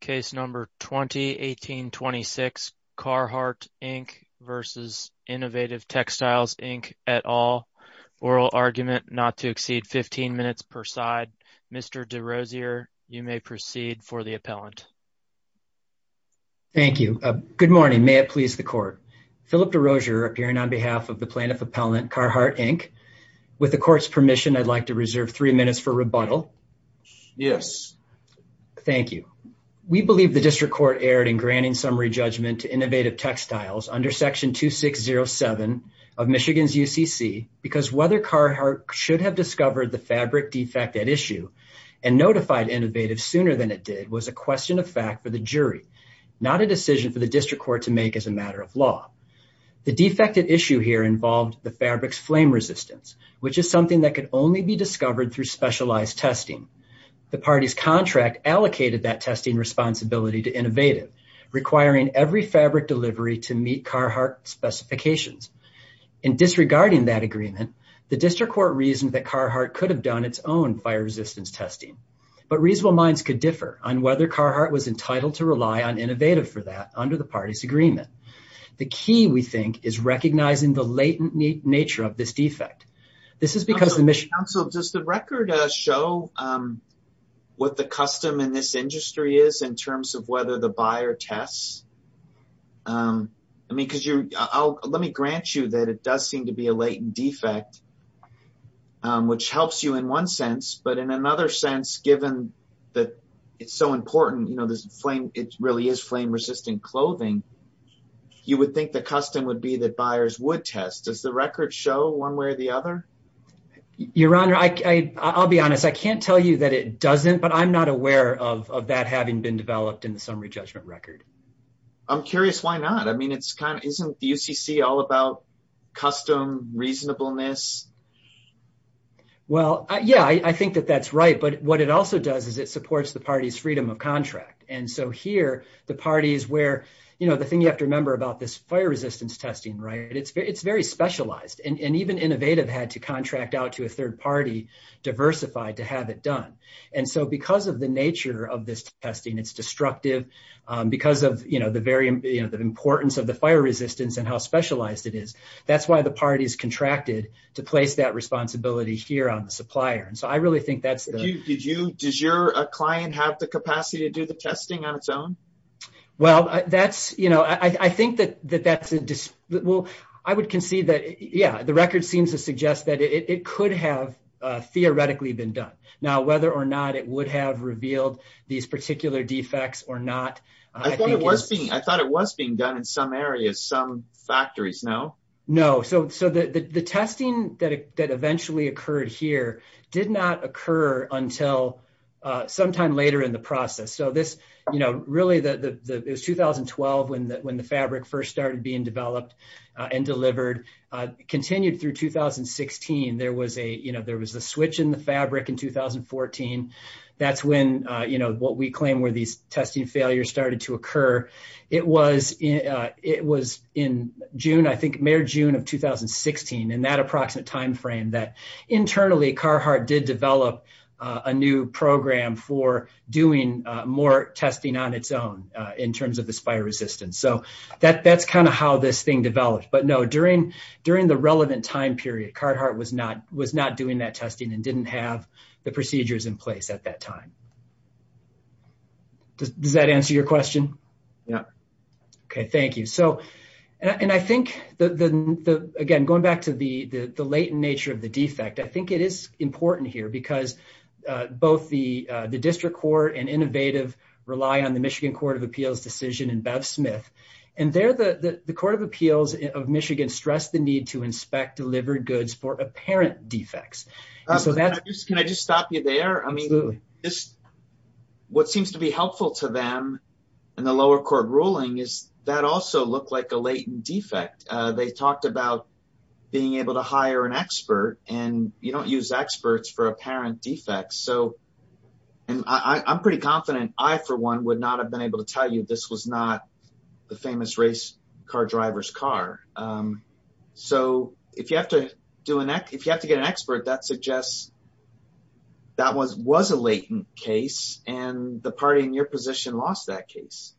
Case number 2018-26 Carhartt Inc versus Innovative Textiles Inc at all. Oral argument not to exceed 15 minutes per side. Mr. DeRosier, you may proceed for the appellant. Thank you. Good morning. May it please the court. Philip DeRosier appearing on behalf of the plaintiff appellant Carhartt Inc. With the court's permission, I'd like to reserve three minutes for believe the district court erred in granting summary judgment to Innovative Textiles under section 2607 of Michigan's UCC because whether Carhartt should have discovered the fabric defect at issue and notified Innovative sooner than it did was a question of fact for the jury, not a decision for the district court to make as a matter of law. The defect at issue here involved the fabric's flame resistance, which is something that could only be discovered through specialized testing. The party's contract allocated that testing responsibility to Innovative, requiring every fabric delivery to meet Carhartt specifications. In disregarding that agreement, the district court reasoned that Carhartt could have done its own fire resistance testing, but reasonable minds could differ on whether Carhartt was entitled to rely on Innovative for that under the party's agreement. The key, we think, is recognizing the latent nature of this fabric. Does the record show what the custom in this industry is in terms of whether the buyer tests? Let me grant you that it does seem to be a latent defect, which helps you in one sense, but in another sense, given that it's so important, it really is flame-resistant clothing, you would think the custom would be that buyers would test. Does the record show one way or the other? I can't tell you that it doesn't, but I'm not aware of that having been developed in the summary judgment record. I'm curious why not. Isn't the UCC all about custom reasonableness? Well, yeah, I think that that's right, but what it also does is it supports the party's freedom of contract. Here, the thing you have to remember about this fire resistance testing, it's very specialized. Even Innovative had to contract out to a third party, diversified, to have it done. Because of the nature of this testing, it's destructive, because of the importance of the fire resistance and how specialized it is, that's why the party's contracted to place that responsibility here on the supplier. Does your client have the capacity to do the testing on its own? Well, I would concede that, yeah, the record seems to suggest that it could have theoretically been done. Now, whether or not it would have revealed these particular defects or not, I think it's... I thought it was being done in some areas, some factories, no? No. The testing that eventually occurred here did not occur until sometime later in the process. Really, it was 2012 when the fabric first started being developed and delivered. Continued through 2016, there was a switch in the fabric in 2014. That's when what we claim where these testing failures started to occur. It was in June, I think, May or June of 2016, in that approximate timeframe, that internally, Carhartt did develop a new program for doing more testing on its own in terms of this fire resistance. That's how this thing developed. But no, during the relevant time period, Carhartt was not doing that testing and didn't have the procedures in place at that time. Does that answer your question? Yeah. Okay, thank you. And I think, again, going back to the latent nature of the defect, I think it is important here because both the district court and Innovative rely on the Michigan Court of Michigan stressed the need to inspect delivered goods for apparent defects. Can I just stop you there? Absolutely. What seems to be helpful to them in the lower court ruling is that also looked like a latent defect. They talked about being able to hire an expert and you don't use experts for apparent defects. I'm pretty confident I, for one, would not have been able to tell you this was not the famous race car driver's car. So if you have to get an expert, that suggests that was a latent case and the party in your position lost that case.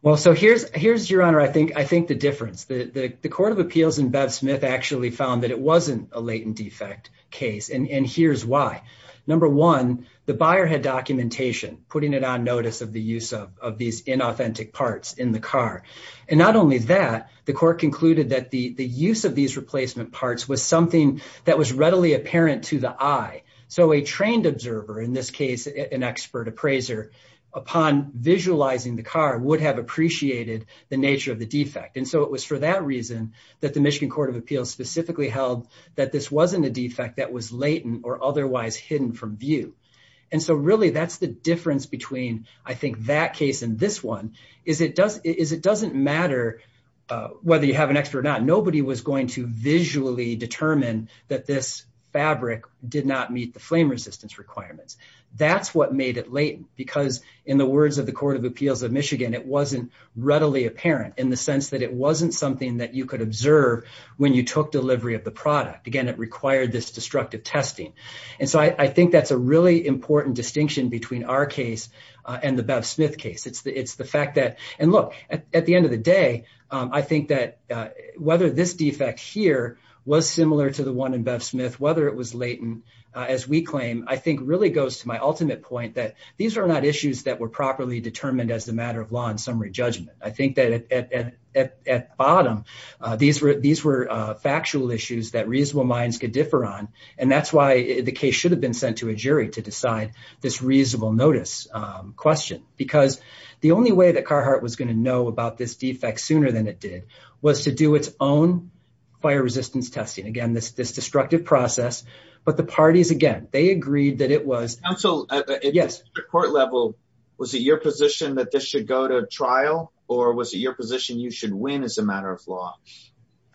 Well, so here's your honor, I think the difference. The court of appeals and Bev Smith actually found that it wasn't a latent defect case and here's why. Number one, the buyer had documentation, putting it on notice of the use of these inauthentic parts in the car. And not only that, the court concluded that the use of these replacement parts was something that was readily apparent to the eye. So a trained observer, in this case, an expert appraiser, upon visualizing the car would have appreciated the nature of the defect. And so it was for that reason that the Michigan Court of Appeals specifically held that this wasn't a defect that was latent or otherwise hidden from view. And so really that's the difference between, I think, that case and this one, is it doesn't matter whether you have an expert or not. Nobody was going to visually determine that this fabric did not meet the flame resistance requirements. That's what made it latent because in the words of the Court of Appeals of Michigan, it wasn't readily apparent in the sense that it wasn't something that you could observe when you took delivery of the product. Again, it required this destructive testing. And so I think that's a really important distinction between our case and the Bev Smith case. It's the fact that, and look, at the end of the day, I think that whether this defect here was similar to the one in Bev Smith, whether it was latent, as we claim, I think really goes to my ultimate point that these are not issues that were properly These were factual issues that reasonable minds could differ on, and that's why the case should have been sent to a jury to decide this reasonable notice question. Because the only way that Carhart was going to know about this defect sooner than it did was to do its own fire resistance testing. Again, this destructive process, but the parties, again, they agreed that it was... Counsel, at the district court level, was it your position that this should go to trial, or was it your position you should win as a matter of law?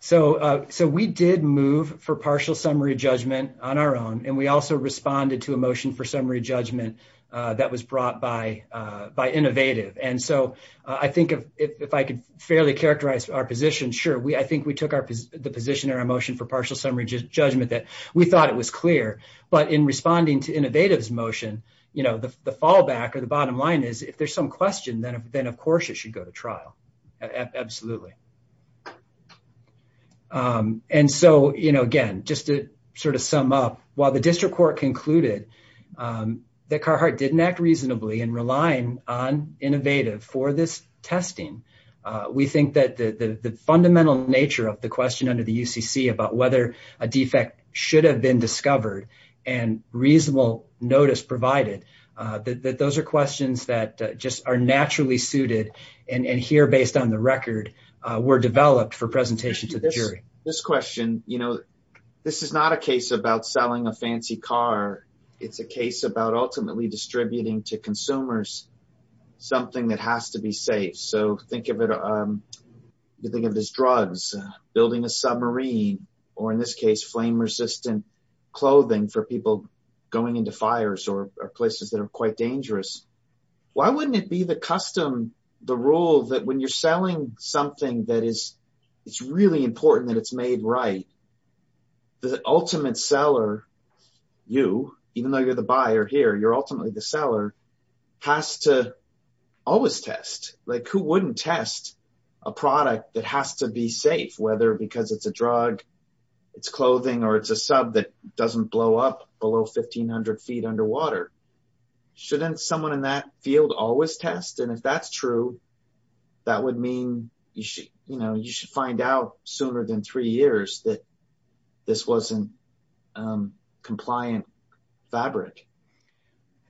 So we did move for partial summary judgment on our own, and we also responded to a motion for summary judgment that was brought by Innovative. And so I think if I could fairly characterize our position, sure, I think we took the position in our motion for partial summary judgment that we thought it was clear. But in responding to Innovative's motion, the fallback or the trial, absolutely. And so, again, just to sum up, while the district court concluded that Carhart didn't act reasonably in relying on Innovative for this testing, we think that the fundamental nature of the question under the UCC about whether a defect should have been discovered and reasonable notice provided, that those are questions that just are naturally suited and here, based on the record, were developed for presentation to the jury. This question, this is not a case about selling a fancy car. It's a case about ultimately distributing to consumers something that has to be safe. So think of it as drugs, building a submarine, or in this case, flame-resistant clothing for people going into places that are quite dangerous. Why wouldn't it be the custom, the rule that when you're selling something that is really important, that it's made right, the ultimate seller, you, even though you're the buyer here, you're ultimately the seller, has to always test. Like who wouldn't test a product that has to be safe, whether because it's a drug, it's clothing, or it's a sub that doesn't blow up below 1,500 feet underwater? Shouldn't someone in that field always test? And if that's true, that would mean you should find out sooner than three years that this wasn't compliant fabric.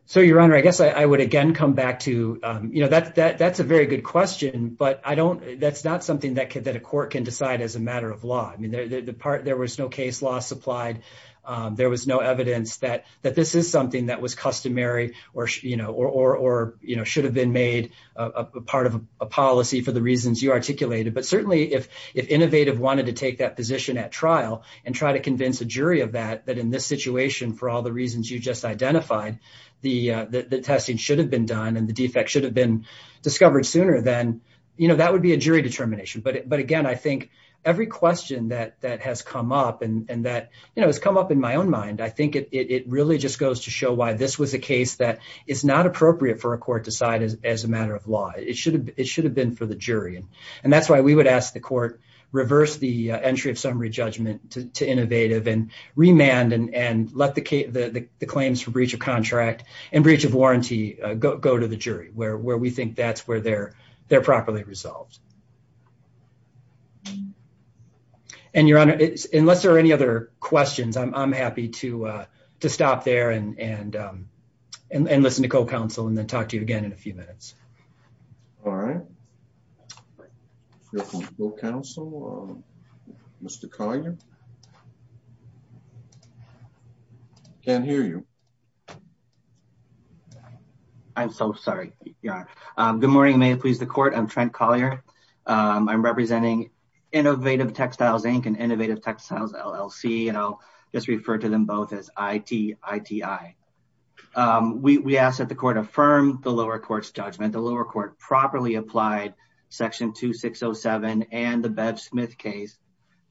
So, Your Honor, I guess I would again come back to, that's a very good question, but that's not that a court can decide as a matter of law. I mean, there was no case law supplied. There was no evidence that this is something that was customary or should have been made part of a policy for the reasons you articulated. But certainly, if Innovative wanted to take that position at trial and try to convince a jury of that, that in this situation, for all the reasons you just identified, the testing should have been done and the defect should have been determined. But again, I think every question that has come up and that has come up in my own mind, I think it really just goes to show why this was a case that is not appropriate for a court to decide as a matter of law. It should have been for the jury. And that's why we would ask the court reverse the entry of summary judgment to Innovative and remand and let the claims for breach of contract and breach of warranty go to the jury, where we think that's where they're properly resolved. Unless there are any other questions, I'm happy to stop there and listen to co-counsel and then talk to you again in a few minutes. All right. Co-counsel, Mr. Collier? Can't hear you. I'm so sorry. Good morning. May it please the court. I'm Trent Collier. I'm representing Innovative Textiles, Inc. and Innovative Textiles, LLC. And I'll just refer to them both as ITITI. We asked that the court affirm the lower court's judgment. The lower court properly applied Section 2607 and the Bev Smith case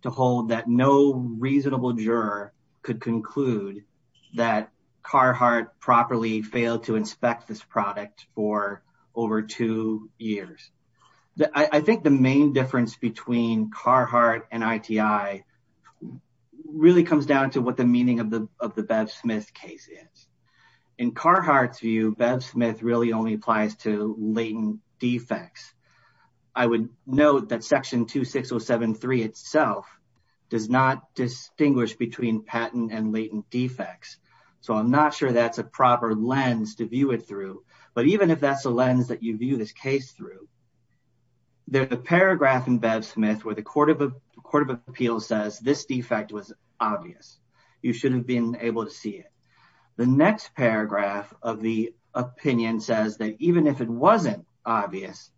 to hold that no reasonable juror could conclude that Carhartt properly failed to inspect this product for over two years. I think the main difference between Carhartt and ITI really comes down to what the meaning of the Bev Smith case is. In Carhartt's view, Bev Smith really only applies to latent defects. I would note that Section 2607-3 itself does not distinguish between patent and latent defects. So I'm not sure that's a proper lens to view it through. But even if that's a lens that you view this case through, there's a paragraph in Bev Smith where the Court of Appeals says this defect was obvious. You shouldn't have been able to see it. The next paragraph of the opinion says that even if it was obvious,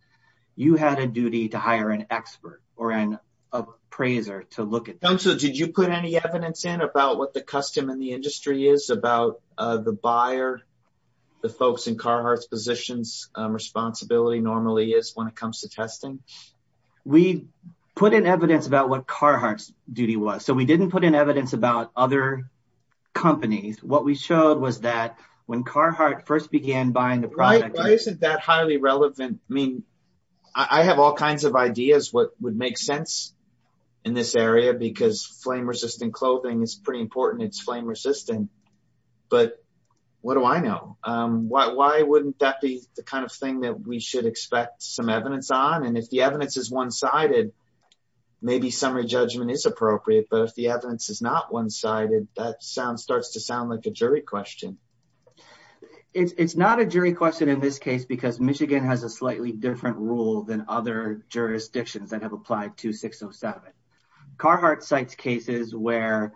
you shouldn't have been able to see it. So I think that's a good appraiser to look at. So did you put any evidence in about what the custom in the industry is about the buyer, the folks in Carhartt's positions, responsibility normally is when it comes to testing? We put in evidence about what Carhartt's duty was. So we didn't put in evidence about other companies. What we showed was that when Carhartt first began buying the product... Why isn't that highly relevant? I mean, I have all kinds of ideas what would make sense in this area because flame-resistant clothing is pretty important. It's flame-resistant. But what do I know? Why wouldn't that be the kind of thing that we should expect some evidence on? And if the evidence is one-sided, maybe summary judgment is appropriate. But if the evidence is not one-sided, that sounds starts to sound like a jury question. It's not a jury question in this case because Michigan has a slightly different rule than other jurisdictions that have applied to 607. Carhartt cites cases where...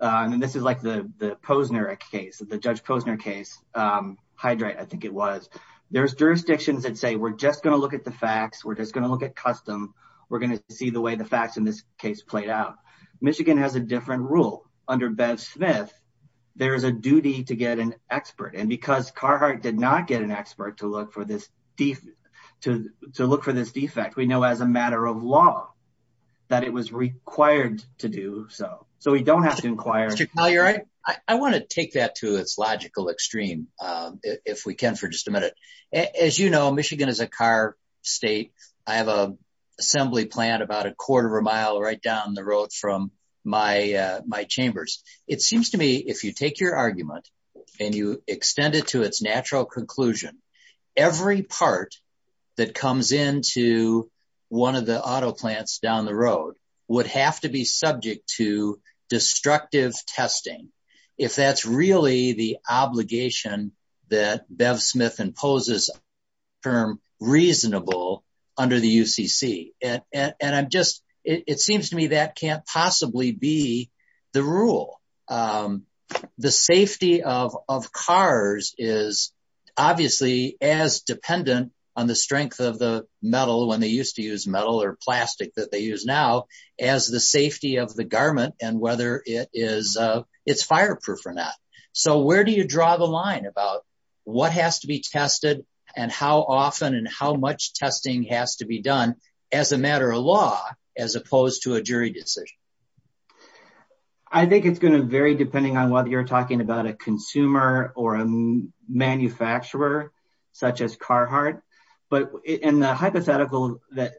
And this is like the Posner case, the Judge Posner case, Hydrate, I think it was. There's jurisdictions that say, we're just going to look at the facts. We're just going to look at custom. We're going to see the way the facts in this case played out. Michigan has a different rule. Under Bev Smith, there is a duty to get an expert. And because Carhartt did not get an expert to look for this defect, we know as a matter of law, that it was required to do so. So we don't have to inquire. Mr. Collier, I want to take that to its logical extreme, if we can, for just a minute. As you know, Michigan is a car state. I have an assembly plant about a quarter of a mile right down the road from my chambers. It seems to me, if you take your argument and you extend it to its natural conclusion, every part that comes into one of the auto plants down the road would have to be subject to destructive testing, if that's really the obligation that Bev Smith imposes term reasonable under the UCC. It seems to me that can't possibly be the rule. The safety of cars is obviously as dependent on the strength of the metal when they used to use metal or plastic that they use now as the safety of the garment and whether it's fireproof or not. So where do you draw the line about what has to be tested and how often and how much testing has to be done as a matter of law, as opposed to a jury decision? I think it's going to vary depending on whether you're talking about a consumer or a manufacturer such as Carhartt. But in the hypothetical that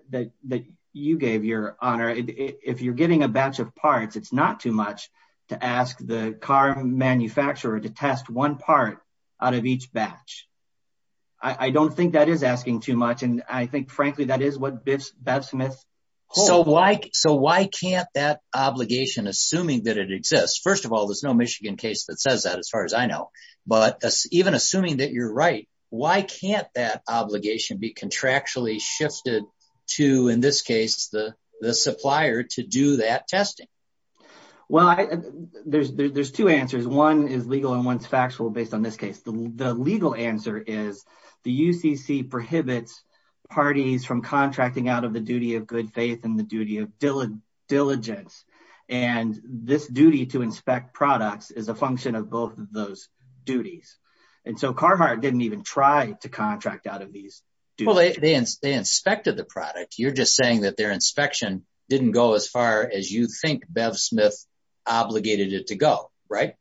you gave your honor, if you're getting a batch of parts, it's not too much to ask the car manufacturer to test one part out of each batch. I don't think that is asking too much. And I think, frankly, that is what Bev Smith holds. So why can't that obligation, assuming that it exists? First of all, there's no Michigan case that says that as far as I know. But even assuming that you're right, why can't that obligation be contractually shifted to, in this case, the supplier to do that testing? Well, there's two answers. One is legal and one's factual based on this case. The legal answer is the UCC prohibits parties from contracting out of the duty of good faith and the duty of diligence. And this duty to inspect products is a function of both of those duties. And so Carhartt didn't even try to contract out of these. Well, they inspected the product. You're just saying that their inspection didn't go as far as you think Bev Smith obligated it to go, right?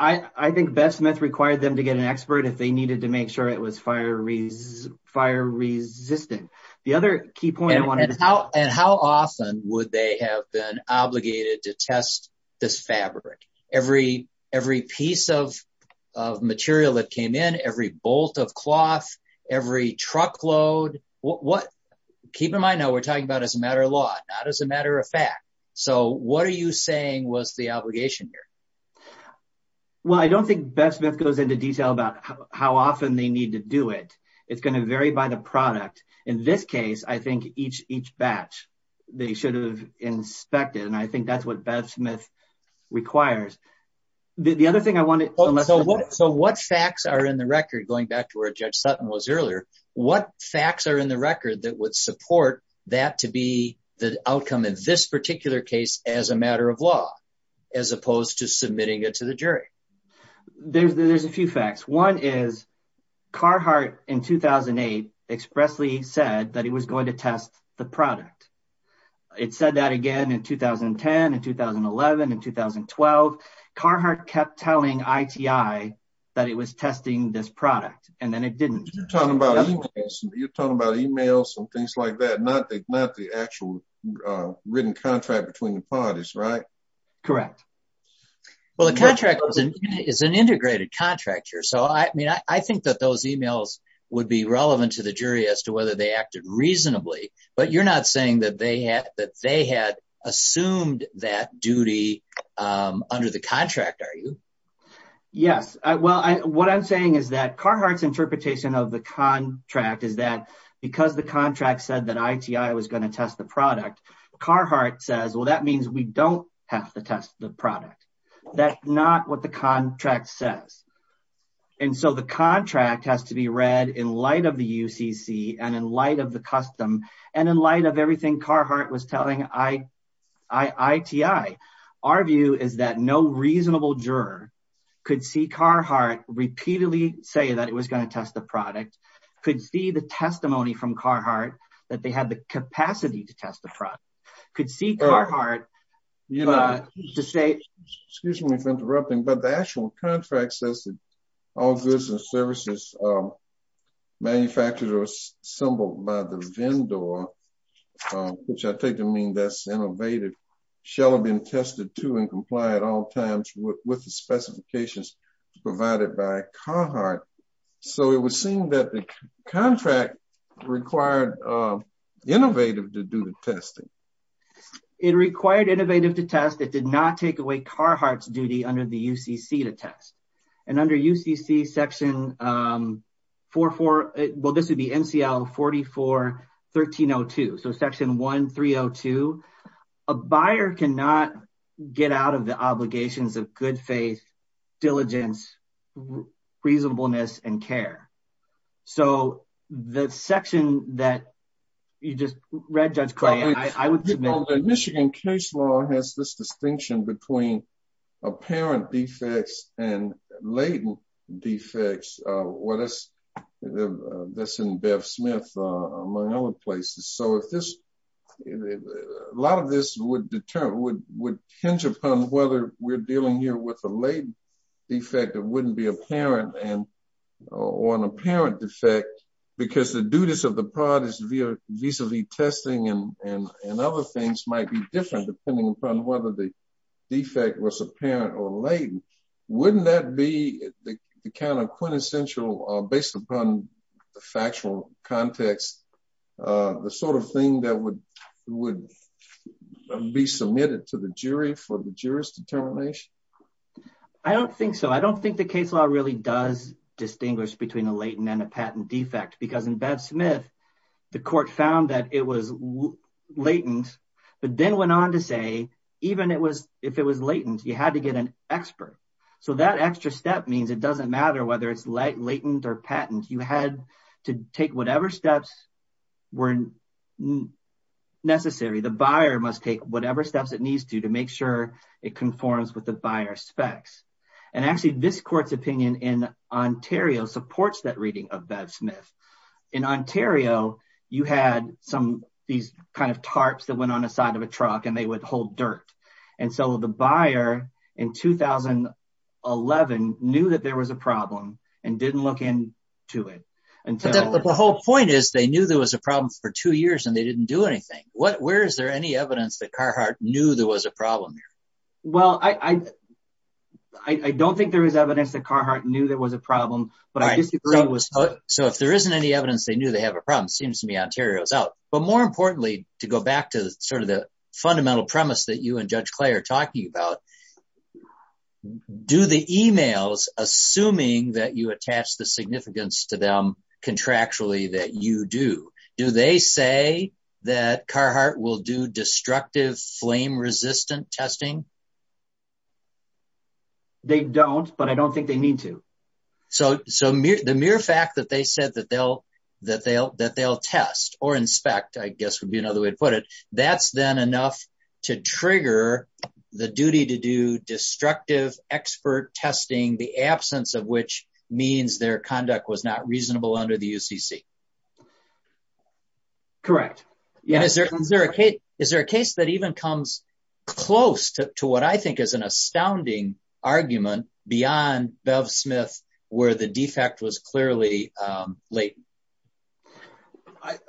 I think Bev Smith required them to get an expert if they needed to make sure it was fire resistant. The other key point I wanted to... And how often would they have been obligated to test this fabric? Every piece of material that came in, every bolt of cloth, every truckload. Keep in mind now we're talking about as a matter of law, not as a matter of fact. So what are you saying was the obligation here? Well, I don't think Bev Smith goes into detail about how often they need to do it. It's going to vary by the product. In this case, I think each batch they should have inspected. And I think that's what Bev Smith requires. The other thing I wanted... So what facts are in the record, going back to where Judge Sutton was earlier, what facts are in the record that would support that to be the outcome of this particular case as a matter of law, as opposed to submitting it to the jury? There's a few facts. One is Carhartt in 2008 expressly said that it was going to test the product. It said that again in 2010, in 2011, in 2012. Carhartt kept telling ITI that it was testing this product and then it didn't. You're talking about emails and things like that, not the actual written contract between the parties, right? Correct. Well, the contract is an integrated contract here. So I think that those emails would be relevant to the jury as to whether they acted reasonably. But you're not saying that they had assumed that duty under the contract, are you? Yes. Well, what I'm saying is that Carhartt's interpretation of the contract is that because the contract said that ITI was going to test the product, Carhartt says, well, that means we don't have to test the product. That's not what the contract says. And so the contract has to be read in light of the UCC and in light of the custom and in light of everything Carhartt was telling ITI. Our view is that no reasonable juror could see Carhartt repeatedly say that it was going test the product, could see the testimony from Carhartt that they had the capacity to test the product, could see Carhartt to say... Excuse me for interrupting, but the actual contract says that all goods and services manufactured or assembled by the vendor, which I take to mean that's innovated, shall have been tested to and comply at all times with the specifications provided by the UCC. So it was seen that the contract required innovative to do the testing. It required innovative to test. It did not take away Carhartt's duty under the UCC to test. And under UCC section 44, well, this would be NCL 44-1302. So section 1302, a buyer cannot get out of the obligations of good faith, diligence, reasonableness, and care. So the section that you just read, Judge Clay, I would... Michigan case law has this distinction between apparent defects and latent defects. Well, that's in Bev Smith, among other places. So a lot of this would hinge upon whether we're dealing here with a latent defect that wouldn't be apparent or an apparent defect, because the duties of the product is vis-a-vis testing and other things might be different depending upon whether the defect was apparent or latent. Wouldn't that be the kind of quintessential, based upon the factual context, the sort of thing that would be submitted to the jury for the jury's determination? I don't think so. I don't think the case law really does distinguish between a latent and a patent defect, because in Bev Smith, the court found that it was latent, but then went on to say, even if it was latent, you had to get an expert. So that extra step means it doesn't matter whether it's latent or patent. You had to take whatever steps were necessary. The buyer must take whatever steps it needs to, to make sure it conforms with the buyer's specs. And actually this court's opinion in Ontario supports that reading of Bev Smith. In Ontario, you had some, these kind of tarps that went on the side of a truck and they would hold dirt. And so the buyer in 2011 knew that there was a problem and didn't look into it. But the whole point is they knew there was a problem for two years and they didn't do anything. What, where is there any evidence that Carhartt knew there was a problem there? Well, I don't think there is evidence that Carhartt knew there was a problem, but I disagree. So if there isn't any evidence, they knew they have a problem. Seems to me Ontario's out. But more importantly, to go back to sort of the fundamental premise that you and Judge Clay are talking about, do the emails, assuming that you attach the significance to them contractually that you do, do they say that Carhartt will do destructive flame resistant testing? They don't, but I don't think they need to. So, so the mere fact that they said that they'll, that they'll, that they'll test or inspect, I guess would be another way to put it. That's then enough to trigger the duty to do destructive expert testing, the absence of which means their conduct was not reasonable under the UCC. Correct. And is there, is there a case, is there a case that even comes close to what I think is an astounding argument beyond Bev Smith, where the defect was clearly latent?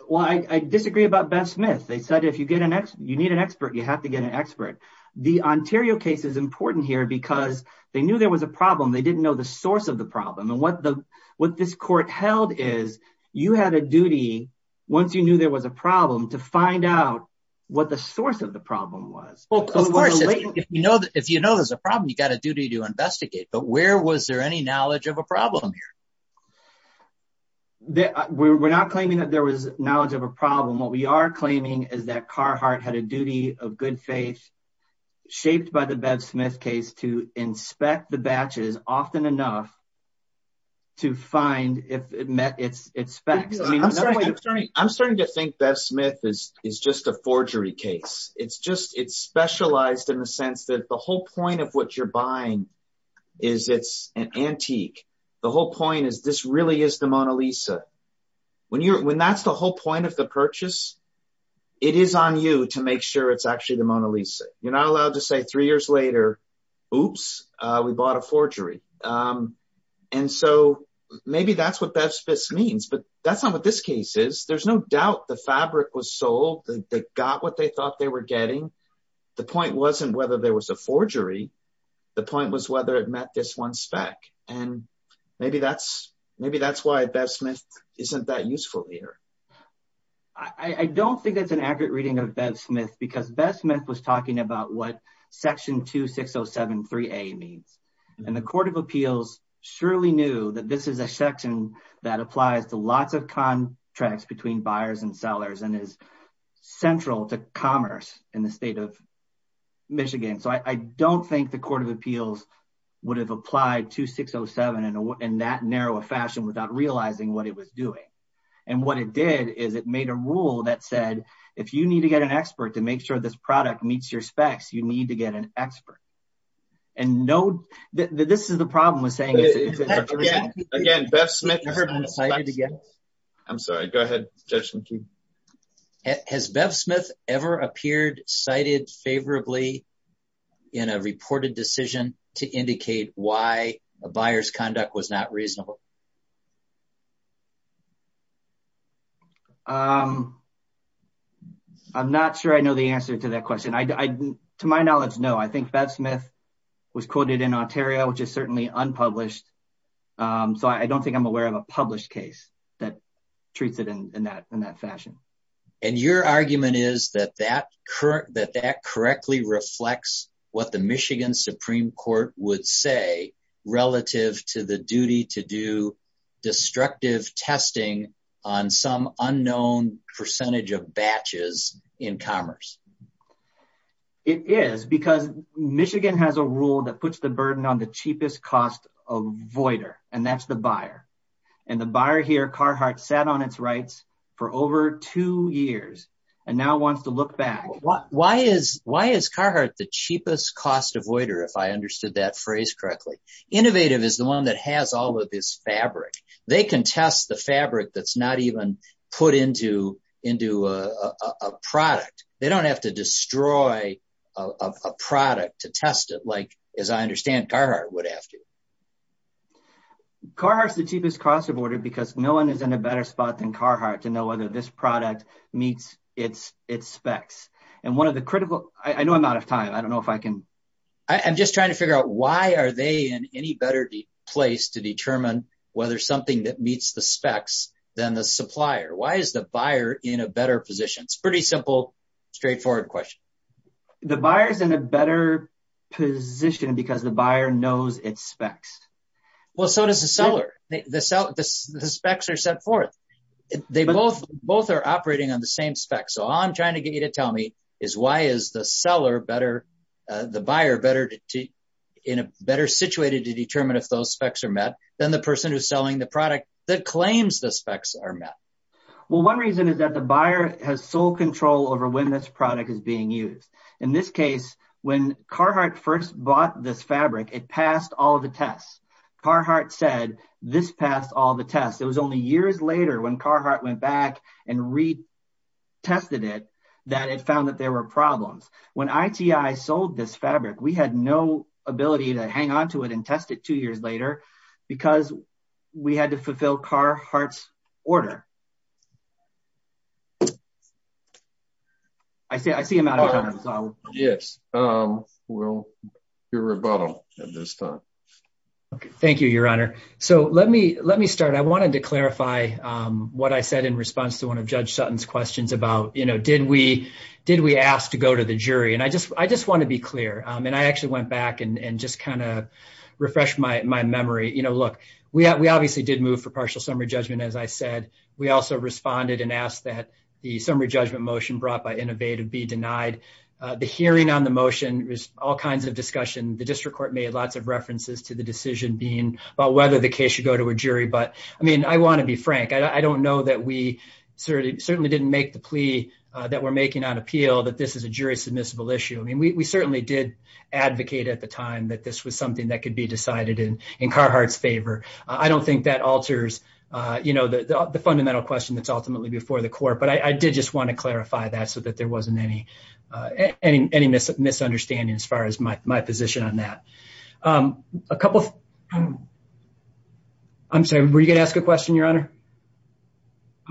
Well, I disagree about Bev Smith. They said, if you get an ex, you need an expert, you have to get an expert. The Ontario case is important here because they knew there was a problem. They didn't know the source of the problem. And what the, what this court held is you had a duty once you knew there was a problem to find out what the source of the problem was. Well, of course, if you know that, if you know there's a problem, you got a duty to investigate, but where was there any knowledge of a problem here? We're not claiming that there was knowledge of a problem. What we are claiming is that Carhartt had a duty of good faith shaped by the Bev Smith case to inspect the batches often enough to find if it met its specs. I'm starting to think Bev Smith is, is just a forgery case. It's just, it's specialized in the sense that the whole point of what you're buying is it's an antique. The whole point is, this really is the Mona Lisa. When you're, when that's the whole point of the purchase, it is on you to make sure it's actually the Mona Lisa. You're not allowed to say three years later, oops, we bought a forgery. And so maybe that's what Bev Smith means, but that's not what this case is. There's no doubt the fabric was sold. They got what they thought they were getting. The point wasn't whether there was a forgery. The point was whether it met this one spec. And maybe that's, maybe that's why Bev Smith isn't that useful here. I don't think that's an accurate reading of Bev Smith because Bev Smith was talking about what Section 2607-3A means. And the Court of Appeals surely knew that this is a section that applies to lots of contracts between buyers and sellers and is central to commerce in the state of Michigan. So I don't think the Court of Appeals would have applied 2607 in that narrow a fashion without realizing what it was doing. And what it did is it made a rule that said, if you need to get an expert to make sure this product meets your specs, you need to get an expert. And no, this is the problem with saying- Again, again, Bev Smith- I'm sorry, go ahead, Judge McKee. Has Bev Smith ever appeared cited favorably in a reported decision to indicate why a buyer's conduct was not reasonable? I'm not sure I know the answer to that question. To my knowledge, no. I think Bev Smith was quoted in Ontario, which is certainly unpublished. So I don't think I'm aware of a published case that treats it in that fashion. And your argument is that that correctly reflects what the Michigan Supreme Court would say relative to the duty to do destructive testing on some unknown percentage of batches in commerce. It is because Michigan has a rule that puts the burden on the cheapest cost avoider, and that's the buyer. And the buyer here, Carhart, sat on its rights for over two years and now wants to look back. Why is Carhart the cheapest cost avoider, if I understood that phrase correctly? Innovative is the one that has all of this fabric. They can test the fabric that's not even put into a product. They don't have to destroy a product to test it like, as I understand, Carhart would have to. Carhart's the cheapest cost avoider because no one is in a better spot than Carhart to know whether this product meets its specs. And one of the critical- I know I'm out of time. I don't know if I can- I'm just trying to figure out why are they in any better place to determine whether something that meets the specs than the supplier? Why is the buyer in a better position? It's a pretty simple, straightforward question. The buyer is in a better position because the buyer knows its specs. Well, so does the seller. The specs are set forth. They both are operating on the same specs. So all I'm trying to get you to tell me is why is the seller better, the buyer, better to- in a better situated to determine if those specs are met than the person who's selling the product that claims the specs are met? Well, one reason is that the buyer has sole control over when this product is being used. In this case, when Carhart first bought this fabric, it passed all the tests. Carhart said this passed all the tests. It was only years later when Carhart went back and retested it that it found that there were problems. When ITI sold this fabric, we had no ability to hang on to it and test it two years later because we had to fulfill Carhart's order. I see I'm out of time. Yes, we'll hear rebuttal at this time. Thank you, Your Honor. So let me start. I wanted to clarify what I said in response to one of Judge Sutton's questions about, you know, did we ask to go to the jury? And I just want to be clear. And I actually went back and just kind of refresh my memory. You know, look, we obviously did move for partial summary judgment, as I said. We also responded and asked that the summary judgment motion brought by Innovate be denied. The hearing on the motion was all kinds of discussion. The decision being about whether the case should go to a jury. But I mean, I want to be frank. I don't know that we certainly didn't make the plea that we're making on appeal that this is a jury submissible issue. I mean, we certainly did advocate at the time that this was something that could be decided in Carhart's favor. I don't think that alters, you know, the fundamental question that's ultimately before the court. But I did just want to clarify that so that there a couple of. I'm sorry, were you going to ask a question, Your Honor?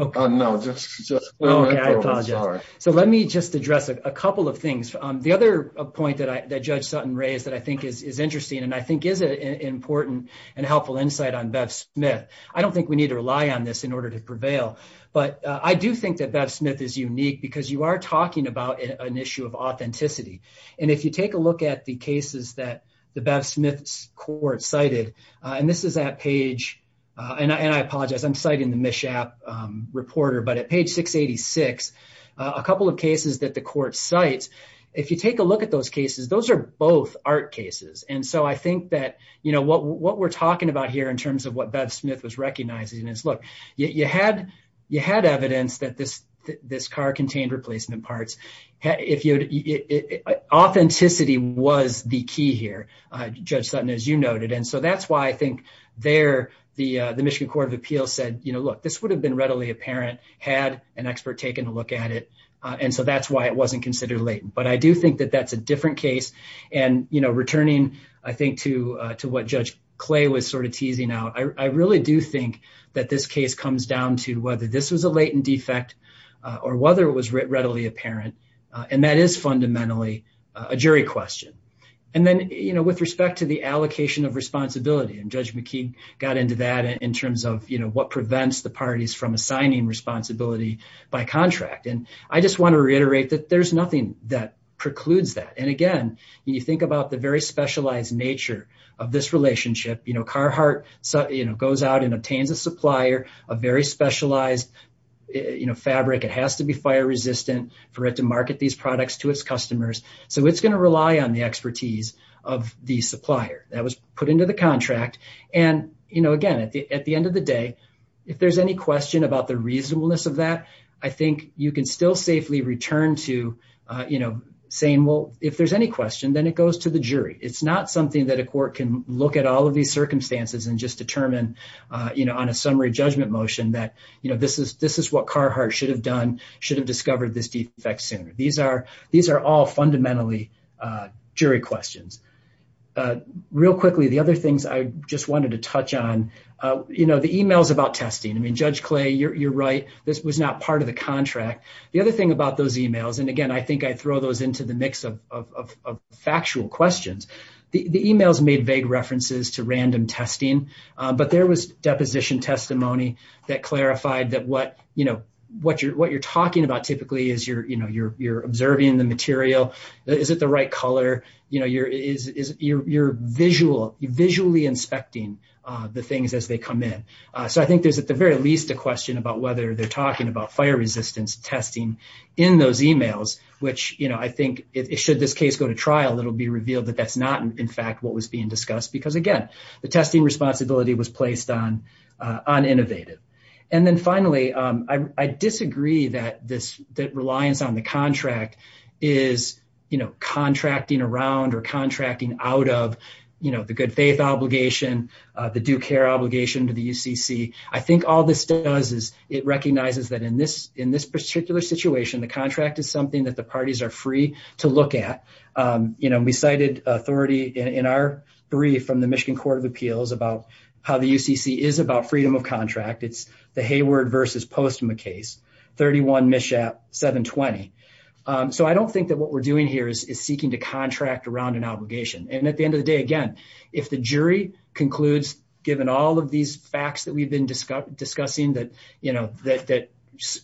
Oh, no. So let me just address a couple of things. The other point that Judge Sutton raised that I think is interesting and I think is an important and helpful insight on Bev Smith. I don't think we need to rely on this in order to prevail. But I do think that Bev Smith is unique because you are talking about an issue of authenticity. And if you take a look at the Smith's court cited, and this is that page and I apologize, I'm citing the Mishap reporter, but at page 686, a couple of cases that the court cites, if you take a look at those cases, those are both art cases. And so I think that, you know, what we're talking about here in terms of what Bev Smith was recognizing is, look, you had evidence that this car contained replacement parts. Authenticity was the key here, Judge Sutton, as you noted. And so that's why I think there the Michigan Court of Appeals said, you know, look, this would have been readily apparent had an expert taken a look at it. And so that's why it wasn't considered latent. But I do think that that's a different case. And, you know, returning, I think, to what Judge Clay was sort of teasing out, I really do think that this case comes down to whether this was a latent defect or whether it was readily apparent. And that is fundamentally a jury question. And then, you know, with respect to the allocation of responsibility, and Judge McKee got into that in terms of, you know, what prevents the parties from assigning responsibility by contract. And I just want to reiterate that there's nothing that precludes that. And again, you think about the very specialized nature of this relationship, you know, Carhartt, you know, goes out and obtains a supplier, a very specialized, you know, fabric, it has to be fire resistant for it to market these products to its customers. So it's going to rely on the expertise of the supplier that was put into the contract. And, you know, again, at the end of the day, if there's any question about the reasonableness of that, I think you can still safely return to, you know, saying, well, if there's any question, then it goes to the jury. It's not something that a court can look at all of these circumstances and just determine, you know, on a summary judgment motion that, you know, this is what Carhartt should have done, should have discovered this defect sooner. These are all fundamentally jury questions. Real quickly, the other things I just wanted to touch on, you know, the emails about testing. I mean, Judge Clay, you're right, this was not part of the contract. The other thing about those emails, and again, I think I throw those into the mix of but there was deposition testimony that clarified that what, you know, what you're talking about, typically, is you're, you know, you're observing the material. Is it the right color? You know, you're visually inspecting the things as they come in. So I think there's at the very least a question about whether they're talking about fire resistance testing in those emails, which, you know, I think it should this case go to trial, it'll be revealed that that's not, in fact, what was being discussed. Because again, the testing responsibility was placed on innovative. And then finally, I disagree that this that reliance on the contract is, you know, contracting around or contracting out of, you know, the good faith obligation, the due care obligation to the UCC. I think all this does is it recognizes that in this particular situation, the contract is something that the parties are free to look at. You know, we cited authority in our brief from the Michigan Court of Appeals about how the UCC is about freedom of contract. It's the Hayward versus Postma case, 31 Mishap 720. So I don't think that what we're doing here is seeking to contract around an obligation. And at the end of the day, again, if the jury concludes, given all of these facts that we've been discussing, that, you know, that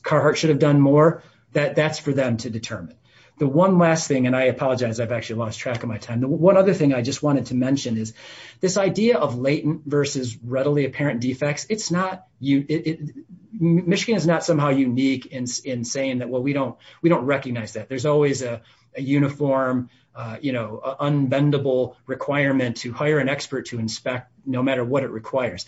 Carhartt should have done more, that that's for them to determine. The one last thing, and I apologize, I've actually lost track of my time. One other thing I just wanted to mention is this idea of latent versus readily apparent defects. It's not, Michigan is not somehow unique in saying that, well, we don't recognize that. There's always a uniform, you know, unbendable requirement to hire an expert to inspect no matter what it requires.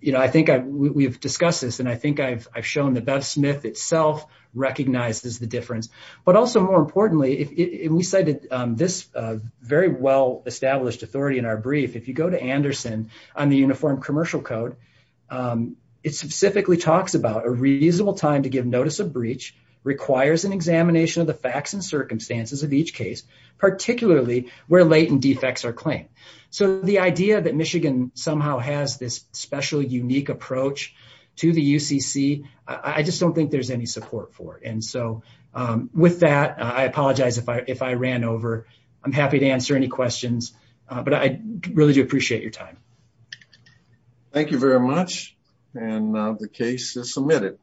You know, I think we've discussed this and I think I've shown that Bev Smith itself recognizes the difference, but also more importantly, if we cited this very well-established authority in our brief, if you go to Anderson on the Uniform Commercial Code, it specifically talks about a reasonable time to give notice of breach, requires an examination of the facts and circumstances of each case, particularly where latent defects are claimed. So the idea that Michigan somehow has this special, unique approach to the UCC, I just don't think there's any support for it. And so with that, I apologize if I ran over. I'm happy to answer any questions, but I really do appreciate your time. Thank you very much, and the case is submitted.